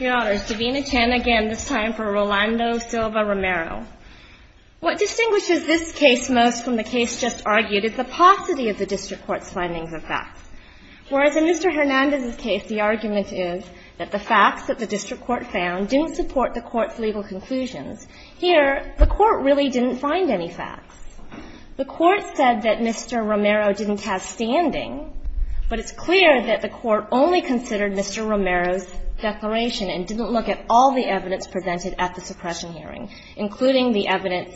Your Honor, it's Davina Chan again, this time for Rolando Silva-Romero. What distinguishes this case most from the case just argued is the paucity of the district court's findings of facts. Whereas in Mr. Hernandez's case, the argument is that the facts that the district court found didn't support the court's legal conclusions, here, the court really didn't find any facts. The court said that Mr. Romero didn't have standing, but it's clear that the court only considered Mr. Romero's declaration and didn't look at all the evidence presented at the suppression hearing, including the evidence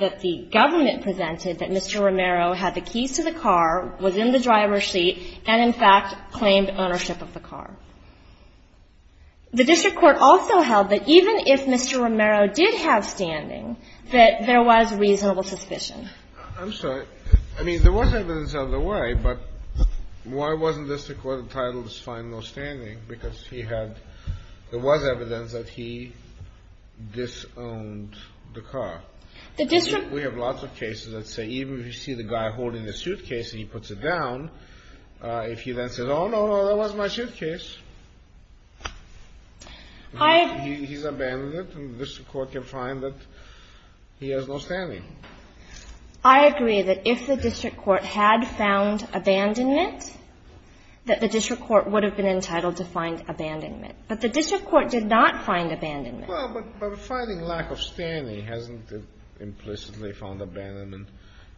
that the government presented that Mr. Romero had the keys to the car, was in the driver's seat, and, in fact, claimed ownership of the car. The district court also held that even if Mr. Romero did have standing, that there was reasonable suspicion. I'm sorry, I mean, there was evidence out of the way, but why wasn't the district court entitled to find no standing? Because he had, there was evidence that he disowned the car. We have lots of cases that say even if you see the guy holding the suitcase and he puts it down, if he then says, oh, no, no, that wasn't my suitcase, he's abandoned it, and the district court can find that he has no standing. I agree that if the district court had found abandonment, that the district court would have been entitled to find abandonment. But the district court did not find abandonment. Well, but finding lack of standing hasn't implicitly found abandonment.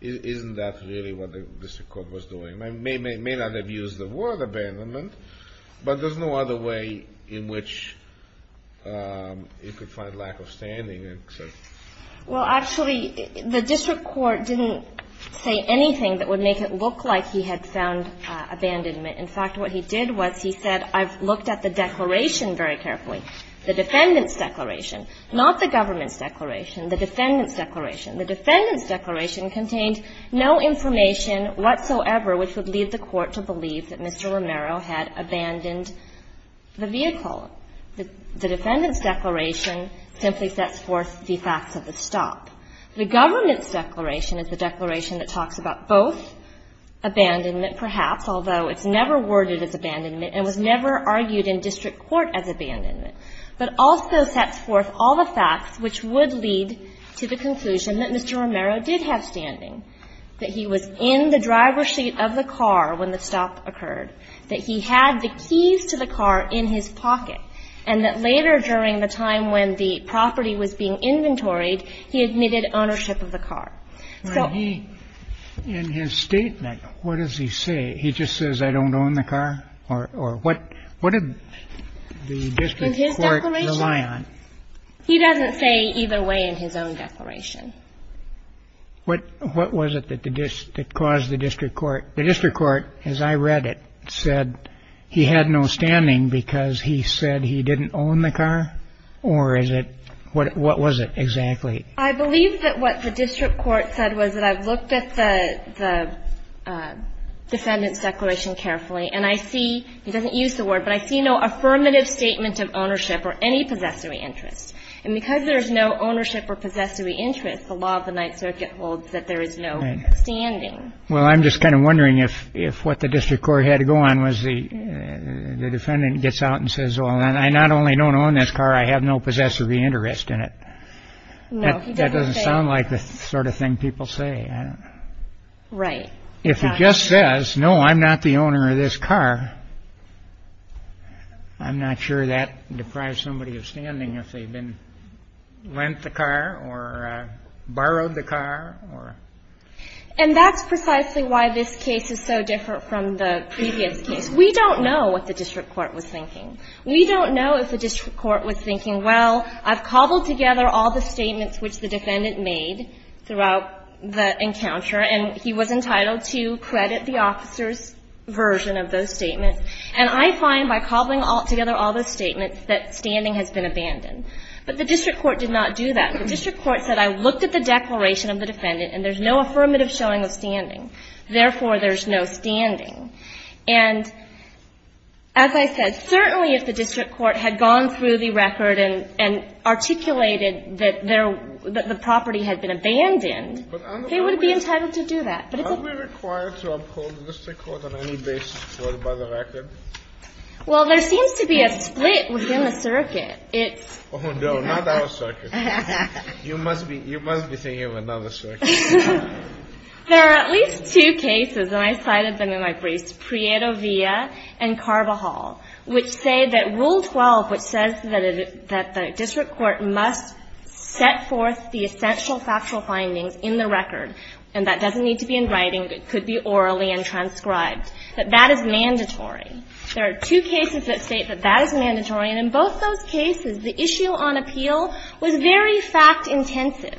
Isn't that really what the district court was doing? It may not have used the word abandonment, but there's no other way in which it could find lack of standing except by the district court. Well, actually, the district court didn't say anything that would make it look like he had found abandonment. In fact, what he did was he said, I've looked at the declaration very carefully, the defendant's declaration, not the government's declaration, the defendant's declaration. The defendant's declaration contained no information whatsoever which would lead the court to believe that Mr. Romero had abandoned the vehicle. The defendant's declaration simply sets forth the facts of the stop. The government's declaration is the declaration that talks about both abandonment perhaps, although it's never worded as abandonment and was never argued in district court as abandonment, but also sets forth all the facts which would lead to the conclusion that Mr. Romero did have standing, that he was in the driver's seat of the car when the stop occurred, that he had the keys to the car in his pocket, and that later during the time when the property was being inventoried, he admitted ownership of the car. So he In his statement, what does he say? He just says, I don't own the car or what? What did the district court rely on? He doesn't say either way in his own declaration. What was it that caused the district court? The district court, as I read it, said he had no standing because he said he didn't own the car? Or is it what was it exactly? I believe that what the district court said was that I've looked at the defendant's declaration carefully, and I see he doesn't use the word, but I see no affirmative statement of ownership or any possessory interest. And because there's no ownership or possessory interest, the law of the Ninth Circuit holds that there is no standing. Well, I'm just kind of wondering if if what the district court had to go on was the defendant gets out and says, well, I not only don't own this car, I have no possessory interest in it. No, that doesn't sound like the sort of thing people say, right? If he just says, no, I'm not the owner of this car. I'm not sure that deprives somebody of standing if they've been lent the car or borrowed the car or. And that's precisely why this case is so different from the previous case. We don't know what the district court was thinking. We don't know if the district court was thinking, well, I've cobbled together all the statements which the defendant made throughout the encounter, and he was entitled to credit the officer's version of those statements. And I find by cobbling together all those statements that standing has been abandoned. But the district court did not do that. The district court said, I looked at the declaration of the defendant and there's no affirmative showing of standing. Therefore, there's no standing. And as I said, certainly if the district court had gone through the record and articulated that the property had been abandoned, they would be entitled to do that. Are we required to uphold the district court on any basis supported by the record? Well, there seems to be a split within the circuit. It's. Oh no, not our circuit. You must be, you must be thinking of another circuit. There are at least two cases, and I cited them in my briefs, Prieto Villa and Carvajal, which say that Rule 12, which says that the district court must set forth the essential factual findings in the record, and that doesn't need to be in writing, it could be orally and transcribed, that that is mandatory. There are two cases that state that that is mandatory. And in both those cases, the issue on appeal was very fact intensive.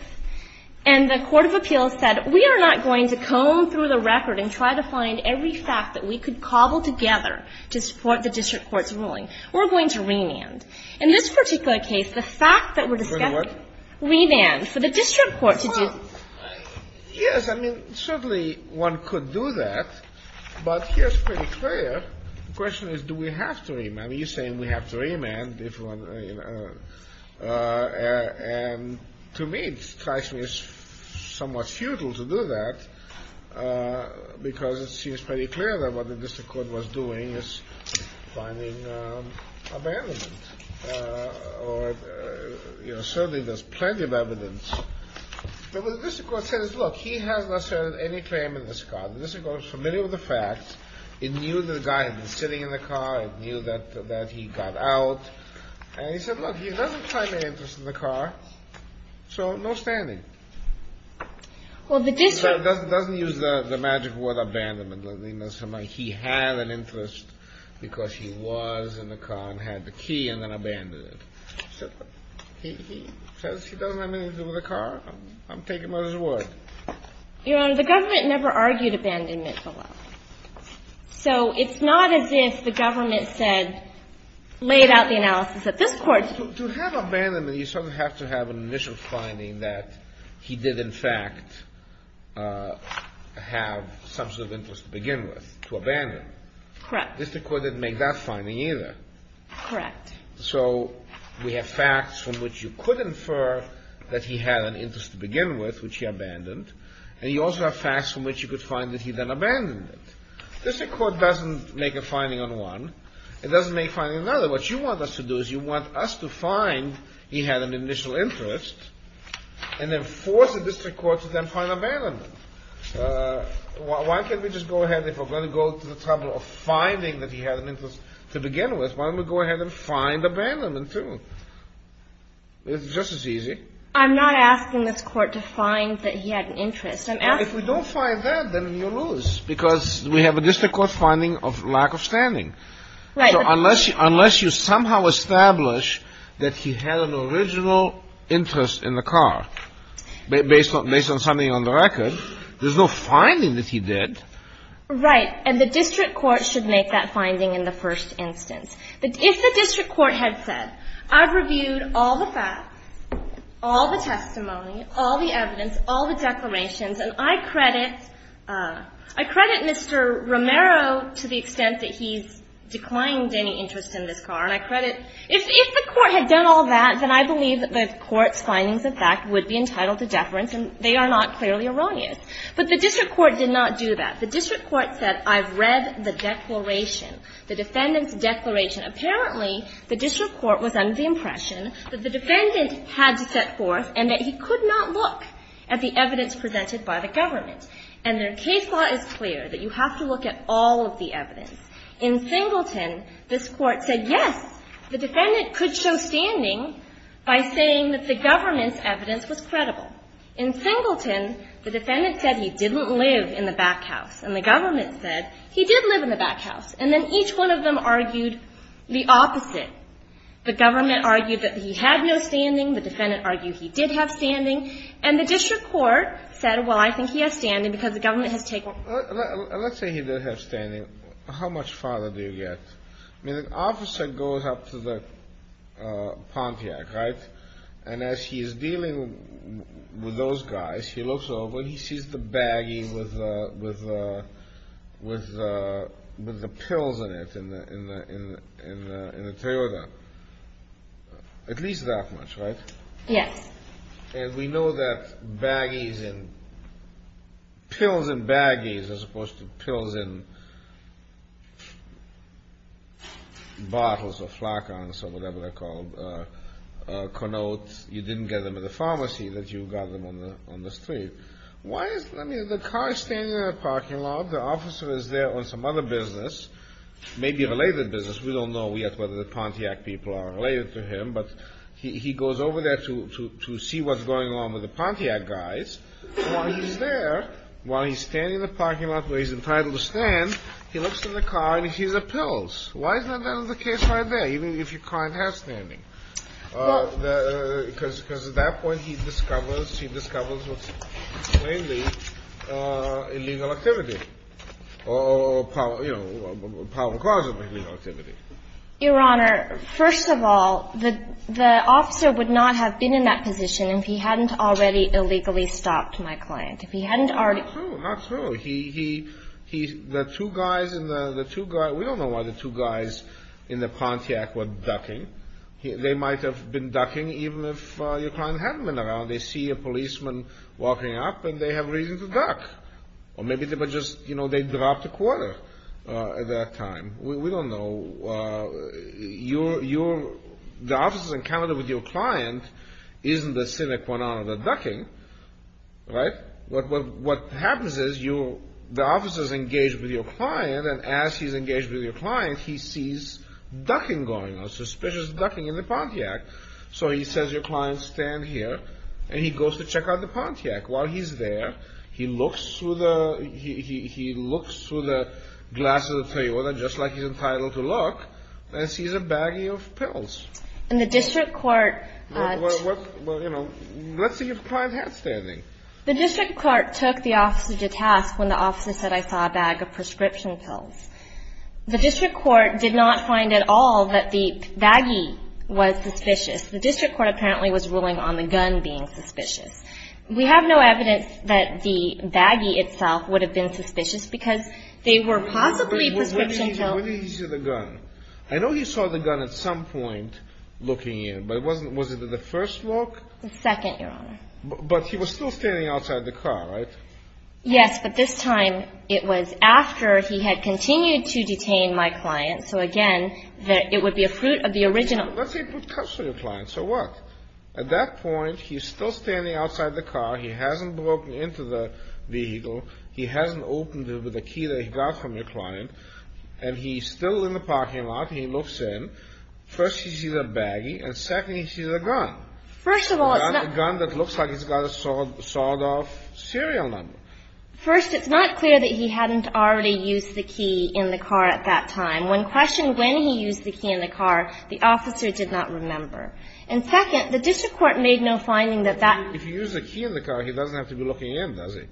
And the court of appeals said, we are not going to comb through the record and try to find every fact that we could cobble together to support the district court's ruling. We're going to remand. In this particular case, the fact that we're discussing. Remand. For the district court. Yes. I mean, certainly one could do that. But here's pretty clear. The question is, do we have to remand? You're saying we have to remand. And to me, it strikes me as somewhat futile to do that because it seems pretty clear that what the district court was doing is finding abandonment or certainly there's plenty of evidence, but what the district court says is, look, he has not served any claim in this car. The district court is familiar with the facts. It knew that the guy had been sitting in the car. It knew that that he got out. And he said, look, he doesn't have any interest in the car. So no standing. Well, the district court doesn't use the magic word abandonment. He had an interest because he was in the car and had the key and then abandoned it. So he says he doesn't have anything to do with the car. I'm taking mother's word. Your Honor, the government never argued abandonment below. So it's not as if the government said, laid out the analysis that this court. To have abandonment, you certainly have to have an initial finding that he did, in fact, have some sort of interest to begin with, to abandon. Correct. The district court didn't make that finding either. Correct. So we have facts from which you could infer that he had an interest to begin with, which he abandoned. And you also have facts from which you could find that he then abandoned it. District court doesn't make a finding on one. It doesn't make finding another. What you want us to do is you want us to find he had an initial interest and then force the district court to then find abandonment. Why can't we just go ahead, if we're going to go to the trouble of finding that he had an initial interest, why can't we just go ahead and force the district court to find abandonment, too? It's just as easy. I'm not asking this court to find that he had an interest. If we don't find that, then you lose, because we have a district court finding of lack of standing. Unless you somehow establish that he had an original interest in the car, based on something on the record, there's no finding that he did. Right. And the district court should make that finding in the first instance. If the district court had said, I've reviewed all the facts, all the testimony, all the evidence, all the declarations, and I credit Mr. Romero to the extent that he's declined any interest in this car, and I credit, if the court had done all that, then I believe that the court's findings of fact would be entitled to deference, and they are not clearly erroneous. But the district court did not do that. The district court said, I've read the declaration, the defendant's declaration. Apparently, the district court was under the impression that the defendant had to set forth and that he could not look at the evidence presented by the government. And their case law is clear, that you have to look at all of the evidence. In Singleton, this court said, yes, the defendant could show standing by saying that the government's evidence was credible. In Singleton, the defendant said he didn't live in the backhouse. And the government said he did live in the backhouse. And then each one of them argued the opposite. The government argued that he had no standing. The defendant argued he did have standing. And the district court said, well, I think he has standing because the government has taken. Let's say he did have standing. How much farther do you get? I mean, the opposite goes up to the Pontiac, right? And as he is dealing with those guys, he looks over, he sees the baggie with the pills in it, in the Toyota. At least that much, right? Yes. And we know that baggies and pills in baggies as opposed to pills in bottles or notes, you didn't get them at the pharmacy, that you got them on the street. Why is the car standing in the parking lot? The officer is there on some other business, maybe a related business. We don't know yet whether the Pontiac people are related to him. But he goes over there to see what's going on with the Pontiac guys. While he's there, while he's standing in the parking lot where he's entitled to stand, he looks in the car and he sees the pills. Why isn't that the case right there, even if your client has standing? Because at that point he discovers, he discovers what's mainly illegal activity or, you know, a probable cause of illegal activity. Your Honor, first of all, the officer would not have been in that position if he hadn't already illegally stopped my client. If he hadn't already... Not true, not true. He, he, he, the two guys in the, the two guys, we don't know why the two guys in the Pontiac were ducking. They might have been ducking even if your client hadn't been around. They see a policeman walking up and they have reason to duck. Or maybe they were just, you know, they dropped a quarter at that time. We don't know. You, you, the officers encounter with your client isn't the cynic one out of the ducking. Right? What, what, what happens is you, the officer's engaged with your client and as he's engaged with your client, he sees ducking going on, suspicious ducking in the Pontiac. So he says, your client stand here and he goes to check out the Pontiac. While he's there, he looks through the, he, he, he looks through the glasses of the periodic just like he's entitled to look and sees a baggie of pills. And the district court... What, what, what, you know, let's see if the client had standing. The district court took the officer to task when the officer said, I saw a bag of prescription pills. The district court did not find at all that the baggie was suspicious. The district court apparently was ruling on the gun being suspicious. We have no evidence that the baggie itself would have been suspicious because they were possibly prescription pills. When did he see the gun? I know you saw the gun at some point looking in, but it wasn't, was it the first look? The second, Your Honor. But he was still standing outside the car, right? Yes. But this time it was after he had continued to detain my client. So again, that it would be a fruit of the original. Let's say it would come to your client. So what? At that point, he's still standing outside the car. He hasn't broken into the vehicle. He hasn't opened it with the key that he got from your client. And he's still in the parking lot. He looks in. First, he sees a baggie. And second, he sees a gun. First of all, it's not... A gun that looks like it's got a sawed off serial number. First, it's not clear that he hadn't already used the key in the car at that time. When questioned when he used the key in the car, the officer did not remember. And second, the district court made no finding that that... If he used the key in the car, he doesn't have to be looking in, does he?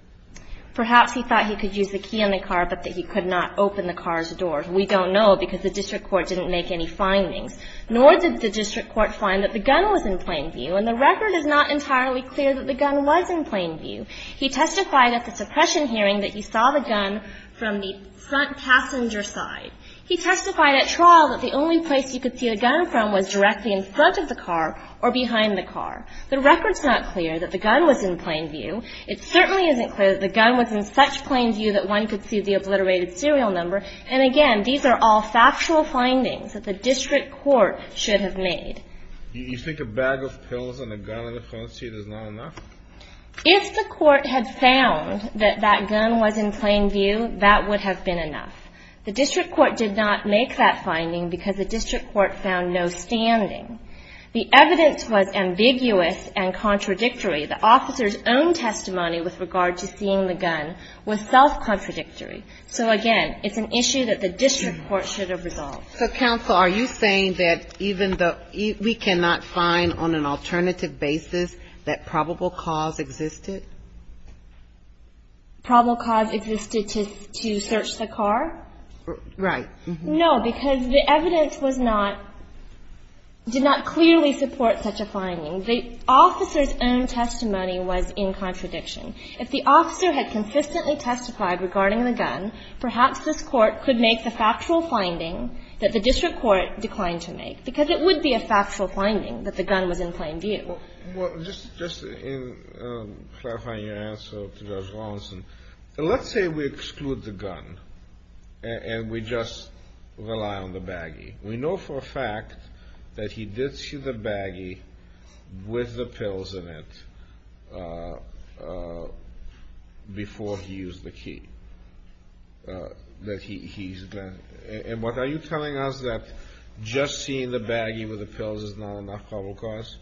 Perhaps he thought he could use the key in the car, but that he could not open the car's door. We don't know because the district court didn't make any findings, nor did the district court find that the gun was in plain view. And the record is not entirely clear that the gun was in plain view. He testified at the suppression hearing that he saw the gun from the front passenger side. He testified at trial that the only place you could see the gun from was directly in front of the car or behind the car. The record's not clear that the gun was in plain view. It certainly isn't clear that the gun was in such plain view that one could see the obliterated serial number. And again, these are all factual findings that the district court should have made. You think a bag of pills and a gun in the front seat is not enough? If the court had found that that gun was in plain view, that would have been enough. The district court did not make that finding because the district court found no standing. The evidence was ambiguous and contradictory. The officer's own testimony with regard to seeing the gun was self-contradictory. So again, it's an issue that the district court should have resolved. So, counsel, are you saying that even though we cannot find on an alternative basis, that probable cause existed? Probable cause existed to search the car? Right. No, because the evidence was not, did not clearly support such a finding. The officer's own testimony was in contradiction. If the officer had consistently testified regarding the gun, perhaps this court could make the factual finding that the district court declined to make, because it would be a factual finding that the gun was in plain view. Well, just in clarifying your answer to Judge Rawlinson, let's say we exclude the gun and we just rely on the baggie. We know for a fact that he did see the baggie with the pills in it before he used the key, that he's, and what are you telling us that just seeing the baggie with the pills is not enough probable cause?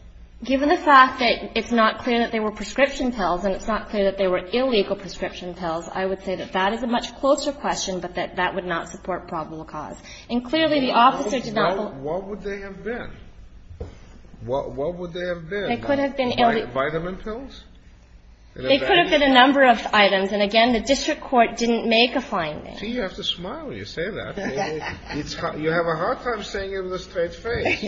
Given the fact that it's not clear that they were prescription pills and it's not clear that they were illegal prescription pills, I would say that that is a much closer question, but that that would not support probable cause. And clearly, the officer did not believe. What would they have been? What would they have been? They could have been illegal. Vitamin pills? They could have been a number of items. And again, the district court didn't make a finding. See, you have to smile when you say that. It's hard. You have a hard time saying it with a straight face.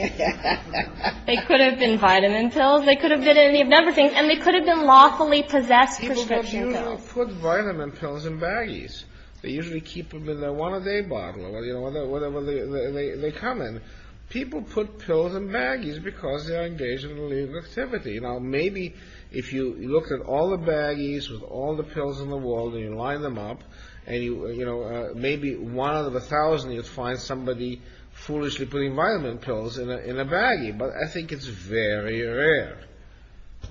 They could have been vitamin pills. They could have been any number of things. And they could have been lawfully possessed prescription pills. People usually put vitamin pills in baggies. They usually keep them in their one-a-day bottle or whatever they come in. People put pills in baggies because they're engaged in illegal activity. Now, maybe if you look at all the baggies with all the pills in the wall and you line them up and you, you know, maybe one out of a thousand, you'd find somebody foolishly putting vitamin pills in a, in a baggie. But I think it's very rare,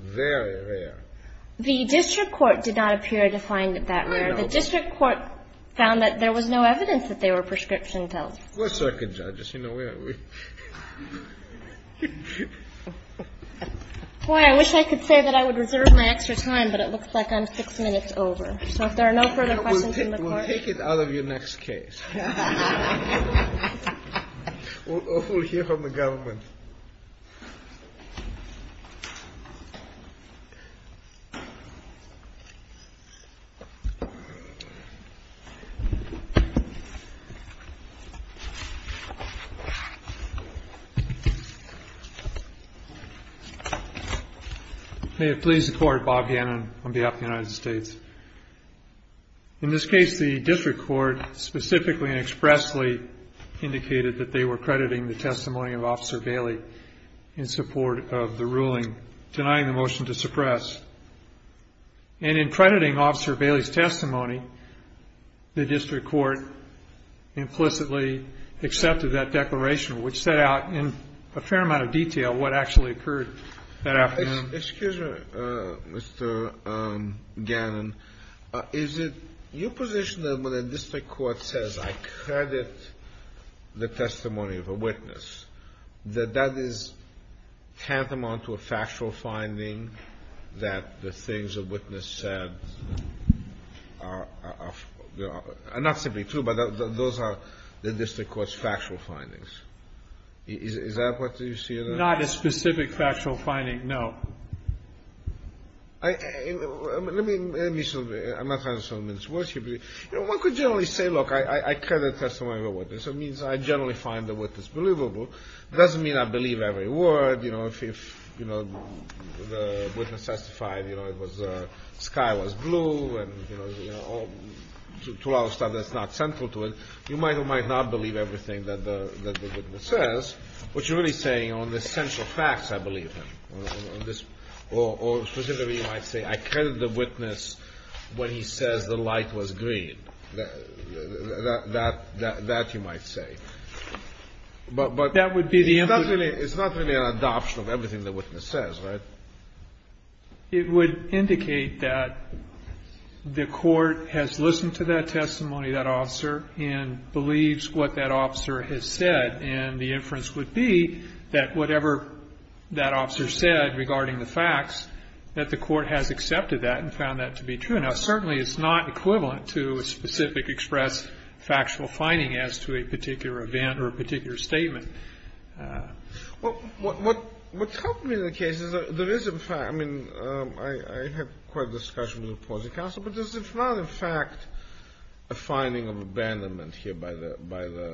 very rare. The district court did not appear to find it that rare. The district court found that there was no evidence that they were prescription pills. We're circuit judges. You know, we're, we're. Boy, I wish I could say that I would reserve my extra time, but it looks like I'm six minutes over. So if there are no further questions in the court. We'll take it out of your next case. We'll hear from the government. May it please the court. Bob Hannon on behalf of the United States. In this case, the district court specifically and expressly indicated that they were crediting the testimony of officer Bailey in support of the ruling, denying the motion to suppress and in crediting officer Bailey's testimony, the district court implicitly accepted that declaration, which set out in a fair amount of detail what actually occurred that afternoon. Excuse me, Mr. Gannon. Is it your position that when a district court says, I credit the testimony of a witness, that that is tantamount to a factual finding that the things a witness said are not simply true, but those are the district court's factual findings. Is that what you see? Not a specific factual finding. No, I mean, let me, I'm not trying to sell them into worship. You know, one could generally say, look, I credit testimony of a witness. It means I generally find the witness believable. It doesn't mean I believe every word, you know, if, you know, the witness testified, you know, it was a sky was blue and, you know, to allow stuff that's not central to it, you might or might not believe everything that the witness says, which is really saying on the central facts, I believe him, or specifically, you might say, I credit the witness when he says the light was green, that you might say. But that would be the. It's not really an adoption of everything the witness says, right? It would indicate that the court has listened to that testimony, that officer, and believes what that officer has said. And the inference would be that whatever that officer said regarding the facts, that the court has accepted that and found that to be true. Now, certainly, it's not equivalent to a specific express factual finding as to a particular event or a particular statement. Well, what's happened in the case is there is, in fact, I mean, I have quite a discussion with the opposing counsel, but this is not, in fact, a finding of abandonment here by the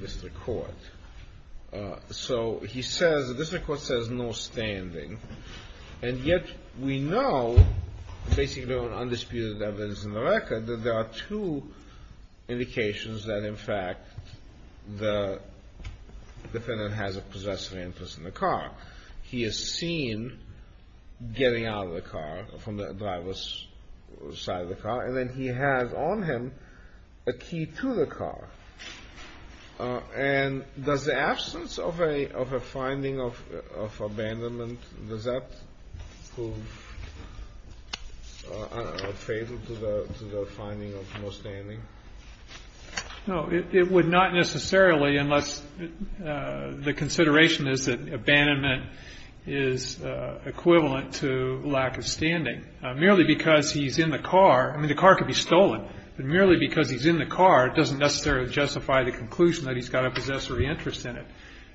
district court. So he says, the district court says no standing. And yet, we know, basically on undisputed evidence in the record, that there are two indications that, in fact, the defendant has a possessive influence in the car. He is seen getting out of the car, from the driver's side of the car, and then he has on him a key to the car. And does the absence of a finding of abandonment, does that prove unfavorable to the finding of no standing? No, it would not necessarily, unless the consideration is that abandonment is equivalent to lack of standing. Merely because he's in the car, I mean, the car could be stolen. But merely because he's in the car doesn't necessarily justify the conclusion that he's got a possessory interest in it.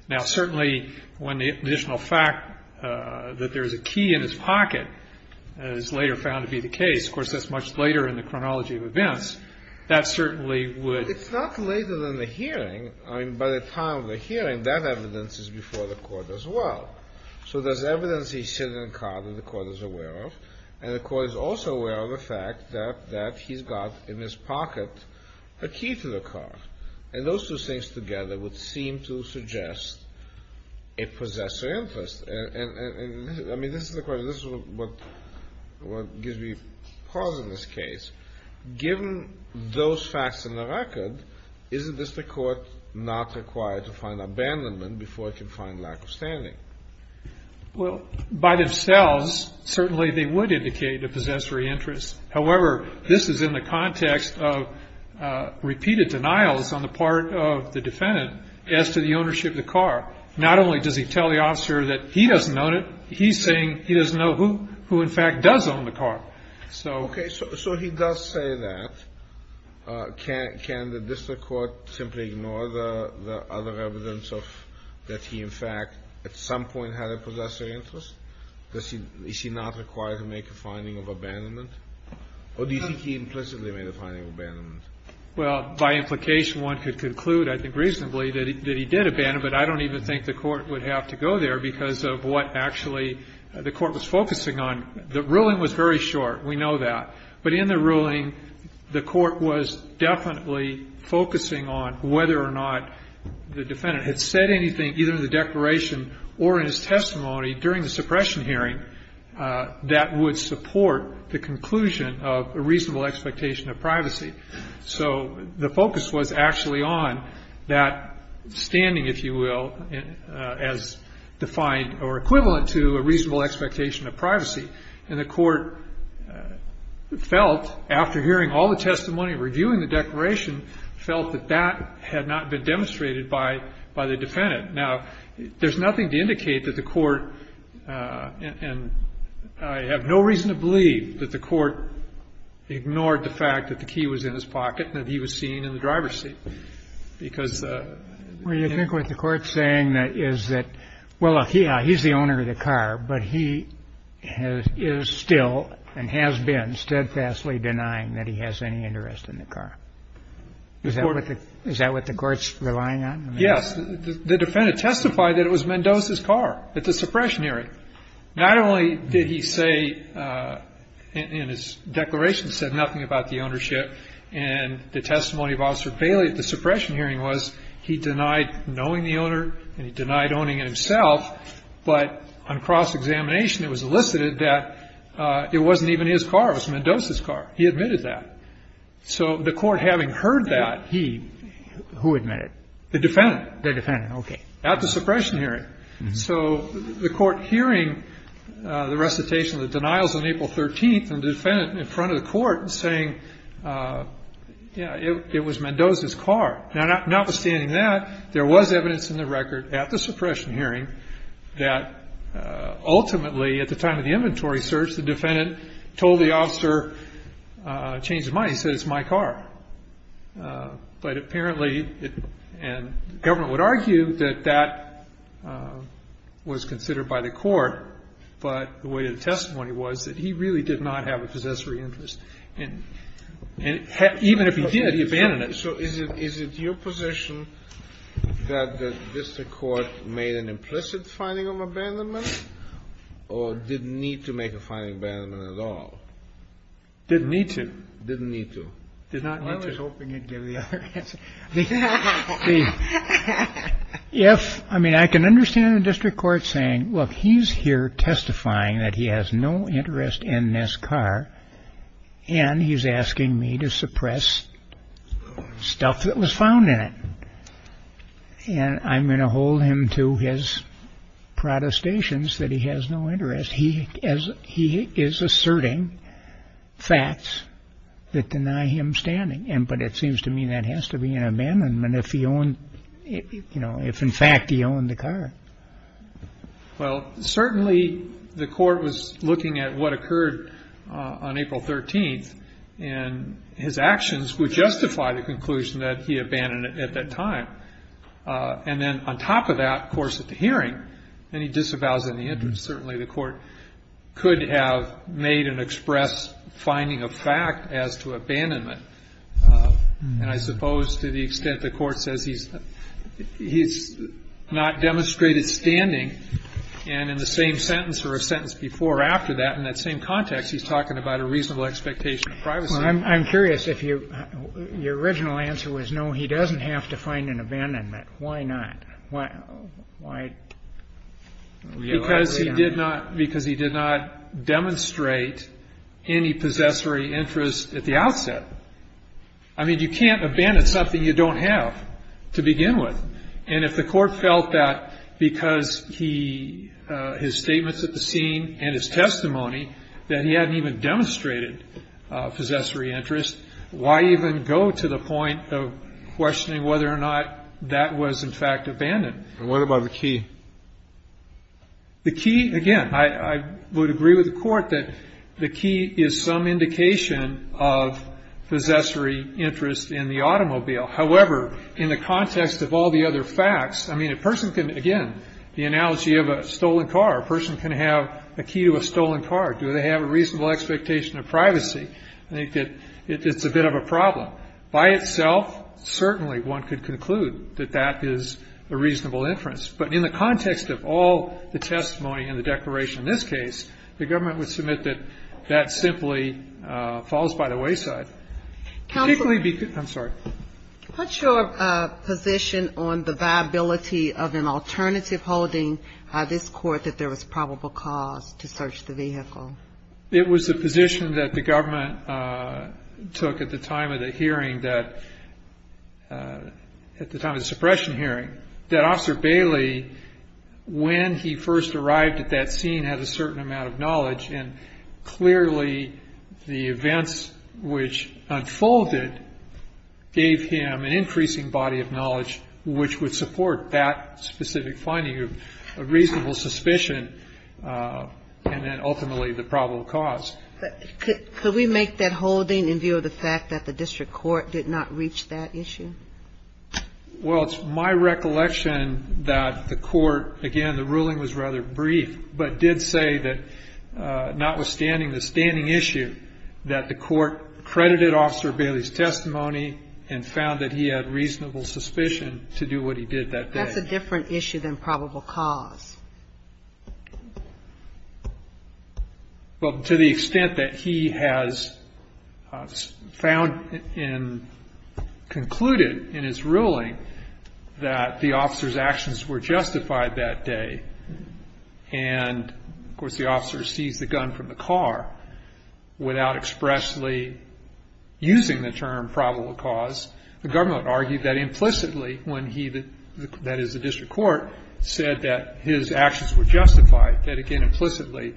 Now, certainly, when the additional fact that there's a key in his pocket is later found to be the case, of course, that's much later in the chronology of events. That certainly would- It's not later than the hearing. I mean, by the time of the hearing, that evidence is before the court as well. So there's evidence he's sitting in the car that the court is aware of. And the court is also aware of the fact that he's got in his pocket a key to the car. And those two things together would seem to suggest a possessor interest. And I mean, this is the question, this is what gives me pause in this case. Given those facts in the record, isn't this the court not required to find abandonment before it can find lack of standing? Well, by themselves, certainly they would indicate a possessory interest. However, this is in the context of repeated denials on the part of the defendant as to the ownership of the car. Not only does he tell the officer that he doesn't own it, he's saying he doesn't know who in fact does own the car. Okay, so he does say that. Can the district court simply ignore the other evidence of that he, in fact, at some point had a possessory interest? Is he not required to make a finding of abandonment? Or do you think he implicitly made a finding of abandonment? Well, by implication, one could conclude, I think reasonably, that he did abandon. But I don't even think the court would have to go there because of what actually the court was focusing on. The ruling was very short, we know that. But in the ruling, the court was definitely focusing on whether or not the defendant had said anything either in the declaration or in his testimony during the suppression hearing that would support the conclusion of a reasonable expectation of privacy. So the focus was actually on that standing, if you will, as defined or equivalent to a reasonable expectation of privacy. And the court felt, after hearing all the testimony, reviewing the declaration, felt that that had not been demonstrated by the defendant. Now, there's nothing to indicate that the court, and I have no reason to believe that the court ignored the fact that the key was in his pocket and that he was seen in the driver's seat. Because- Well, you think what the court's saying is that, well, he's the owner of the car, but he is still and has been steadfastly denying that he has any interest in the car. Is that what the court's relying on? Yes, the defendant testified that it was Mendoza's car at the suppression hearing. Not only did he say, in his declaration, said nothing about the ownership and the testimony of Officer Bailey at the suppression hearing was he denied knowing the owner and he denied owning it himself, but on cross-examination, it was elicited that it wasn't even his car, it was Mendoza's car. He admitted that. So the court, having heard that, he- Who admitted? The defendant. The defendant, okay. At the suppression hearing. So the court, hearing the recitation of the denials on April 13th, and the defendant in front of the court saying, yeah, it was Mendoza's car. Now, notwithstanding that, there was evidence in the record at the suppression hearing that ultimately, at the time of the inventory search, the defendant told the officer, changed his mind, he said, it's my car. But apparently, and government would argue that that was considered by the court. But the way the testimony was that he really did not have a possessory interest. And even if he did, he abandoned it. So is it your position that the district court made an implicit finding of abandonment or didn't need to make a finding of abandonment at all? Didn't need to. Didn't need to. Did not need to. I was hoping you'd give the other answer. I mean, I can understand the district court saying, look, he's here testifying that he has no interest in this car. And he's asking me to suppress stuff that was found in it. And I'm going to hold him to his protestations that he has no interest. He is asserting facts that deny him standing. But it seems to me that has to be an abandonment if he owned, if in fact he owned the car. Well, certainly the court was looking at what occurred on April 13th. And his actions would justify the conclusion that he abandoned it at that time. And then on top of that, of course, at the hearing, then he disavows any interest. Certainly the court could have made an express finding of fact as to abandonment. And I suppose to the extent the court says he's not demonstrated standing. And in the same sentence or a sentence before or after that, in that same context, he's talking about a reasonable expectation of privacy. Well, I'm curious if your original answer was, no, he doesn't have to find an abandonment. Why not? Why? Because he did not, because he did not demonstrate any possessory interest at the outset. I mean, you can't abandon something you don't have to begin with. And if the court felt that because he, his statements at the scene and his testimony, that he hadn't even demonstrated possessory interest, why even go to the point of questioning whether or not that was in fact abandoned? And what about the key? The key, again, I would agree with the court that the key is some indication of possessory interest in the automobile. However, in the context of all the other facts, I mean, a person can, again, the analogy of a stolen car, a person can have a key to a stolen car. Do they have a reasonable expectation of privacy? I think that it's a bit of a problem. By itself, certainly one could conclude that that is a reasonable inference. But in the context of all the testimony and the declaration in this case, the government would submit that that simply falls by the wayside. Particularly because, I'm sorry. Put your position on the viability of an alternative holding this court that there was probable cause to search the vehicle. It was the position that the government took at the time of the hearing that, at the time of the suppression hearing, that Officer Bailey, when he first arrived at that scene, had a certain amount of knowledge. And clearly, the events which unfolded gave him an increasing body of knowledge, which would support that specific finding of reasonable suspicion. And then ultimately, the probable cause. Could we make that holding in view of the fact that the district court did not reach that issue? Well, it's my recollection that the court, again, the ruling was rather brief, but did say that notwithstanding the standing issue, that the court credited Officer Bailey's testimony and found that he had reasonable suspicion to do what he did that day. That's a different issue than probable cause. Well, to the extent that he has found and concluded in his ruling that the officer's actions were justified that day. And of course, the officer seized the gun from the car without expressly using the term probable cause, the government argued that implicitly when he, that is the district court, said that his actions were justified, that again, implicitly,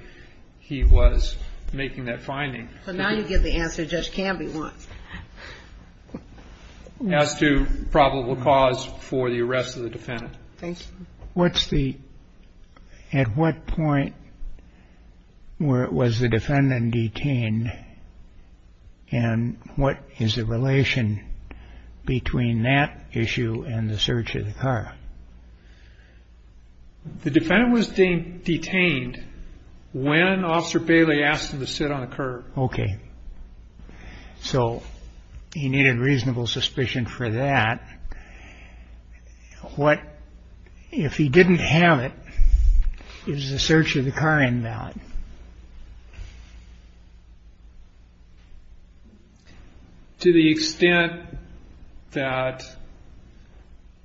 he was making that finding. So now you get the answer Judge Canby wants. As to probable cause for the arrest of the defendant. Thank you. What's the, at what point was the defendant detained? And what is the relation between that issue and the search of the car? The defendant was detained when Officer Bailey asked him to sit on a curb. Okay, so he needed reasonable suspicion for that. What, if he didn't have it, is the search of the car invalid? To the extent that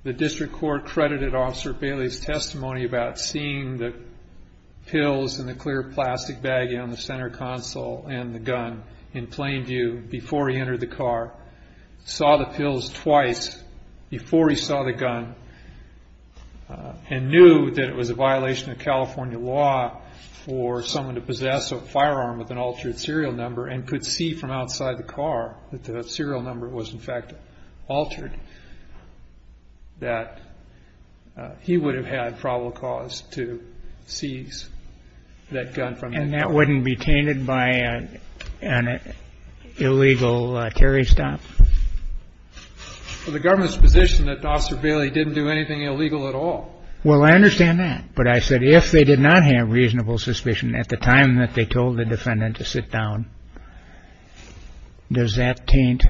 the district court credited Officer Bailey's testimony about seeing the pills in the clear plastic bag on the center console and the gun in plain view before he entered the car, saw the pills twice before he saw the gun. And knew that it was a violation of California law for someone to possess a firearm with an altered serial number and could see from outside the car that the serial number was, in fact, altered, that he would have had probable cause to seize that gun from him. And that wouldn't be tainted by an illegal carry stop? Well, the government's position that Officer Bailey didn't do anything illegal at all. Well, I understand that. But I said, if they did not have reasonable suspicion at the time that they told the defendant to sit down, does that taint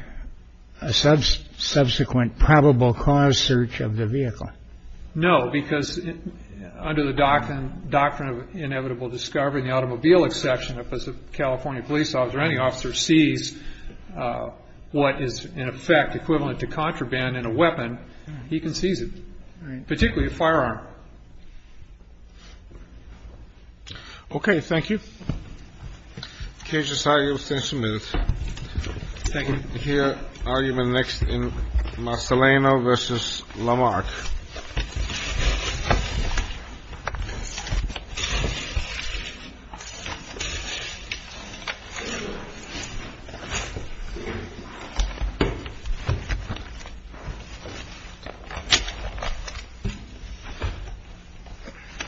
a subsequent probable cause search of the vehicle? No, because under the doctrine of inevitable discovery and the automobile exception, if a California police officer or any officer sees what is, in effect, equivalent to contraband in a weapon, he can seize it, particularly a firearm. Okay, thank you. Case decided, you're abstained for a minute. Thank you. Here, argument next in Marcellino versus Lamarck.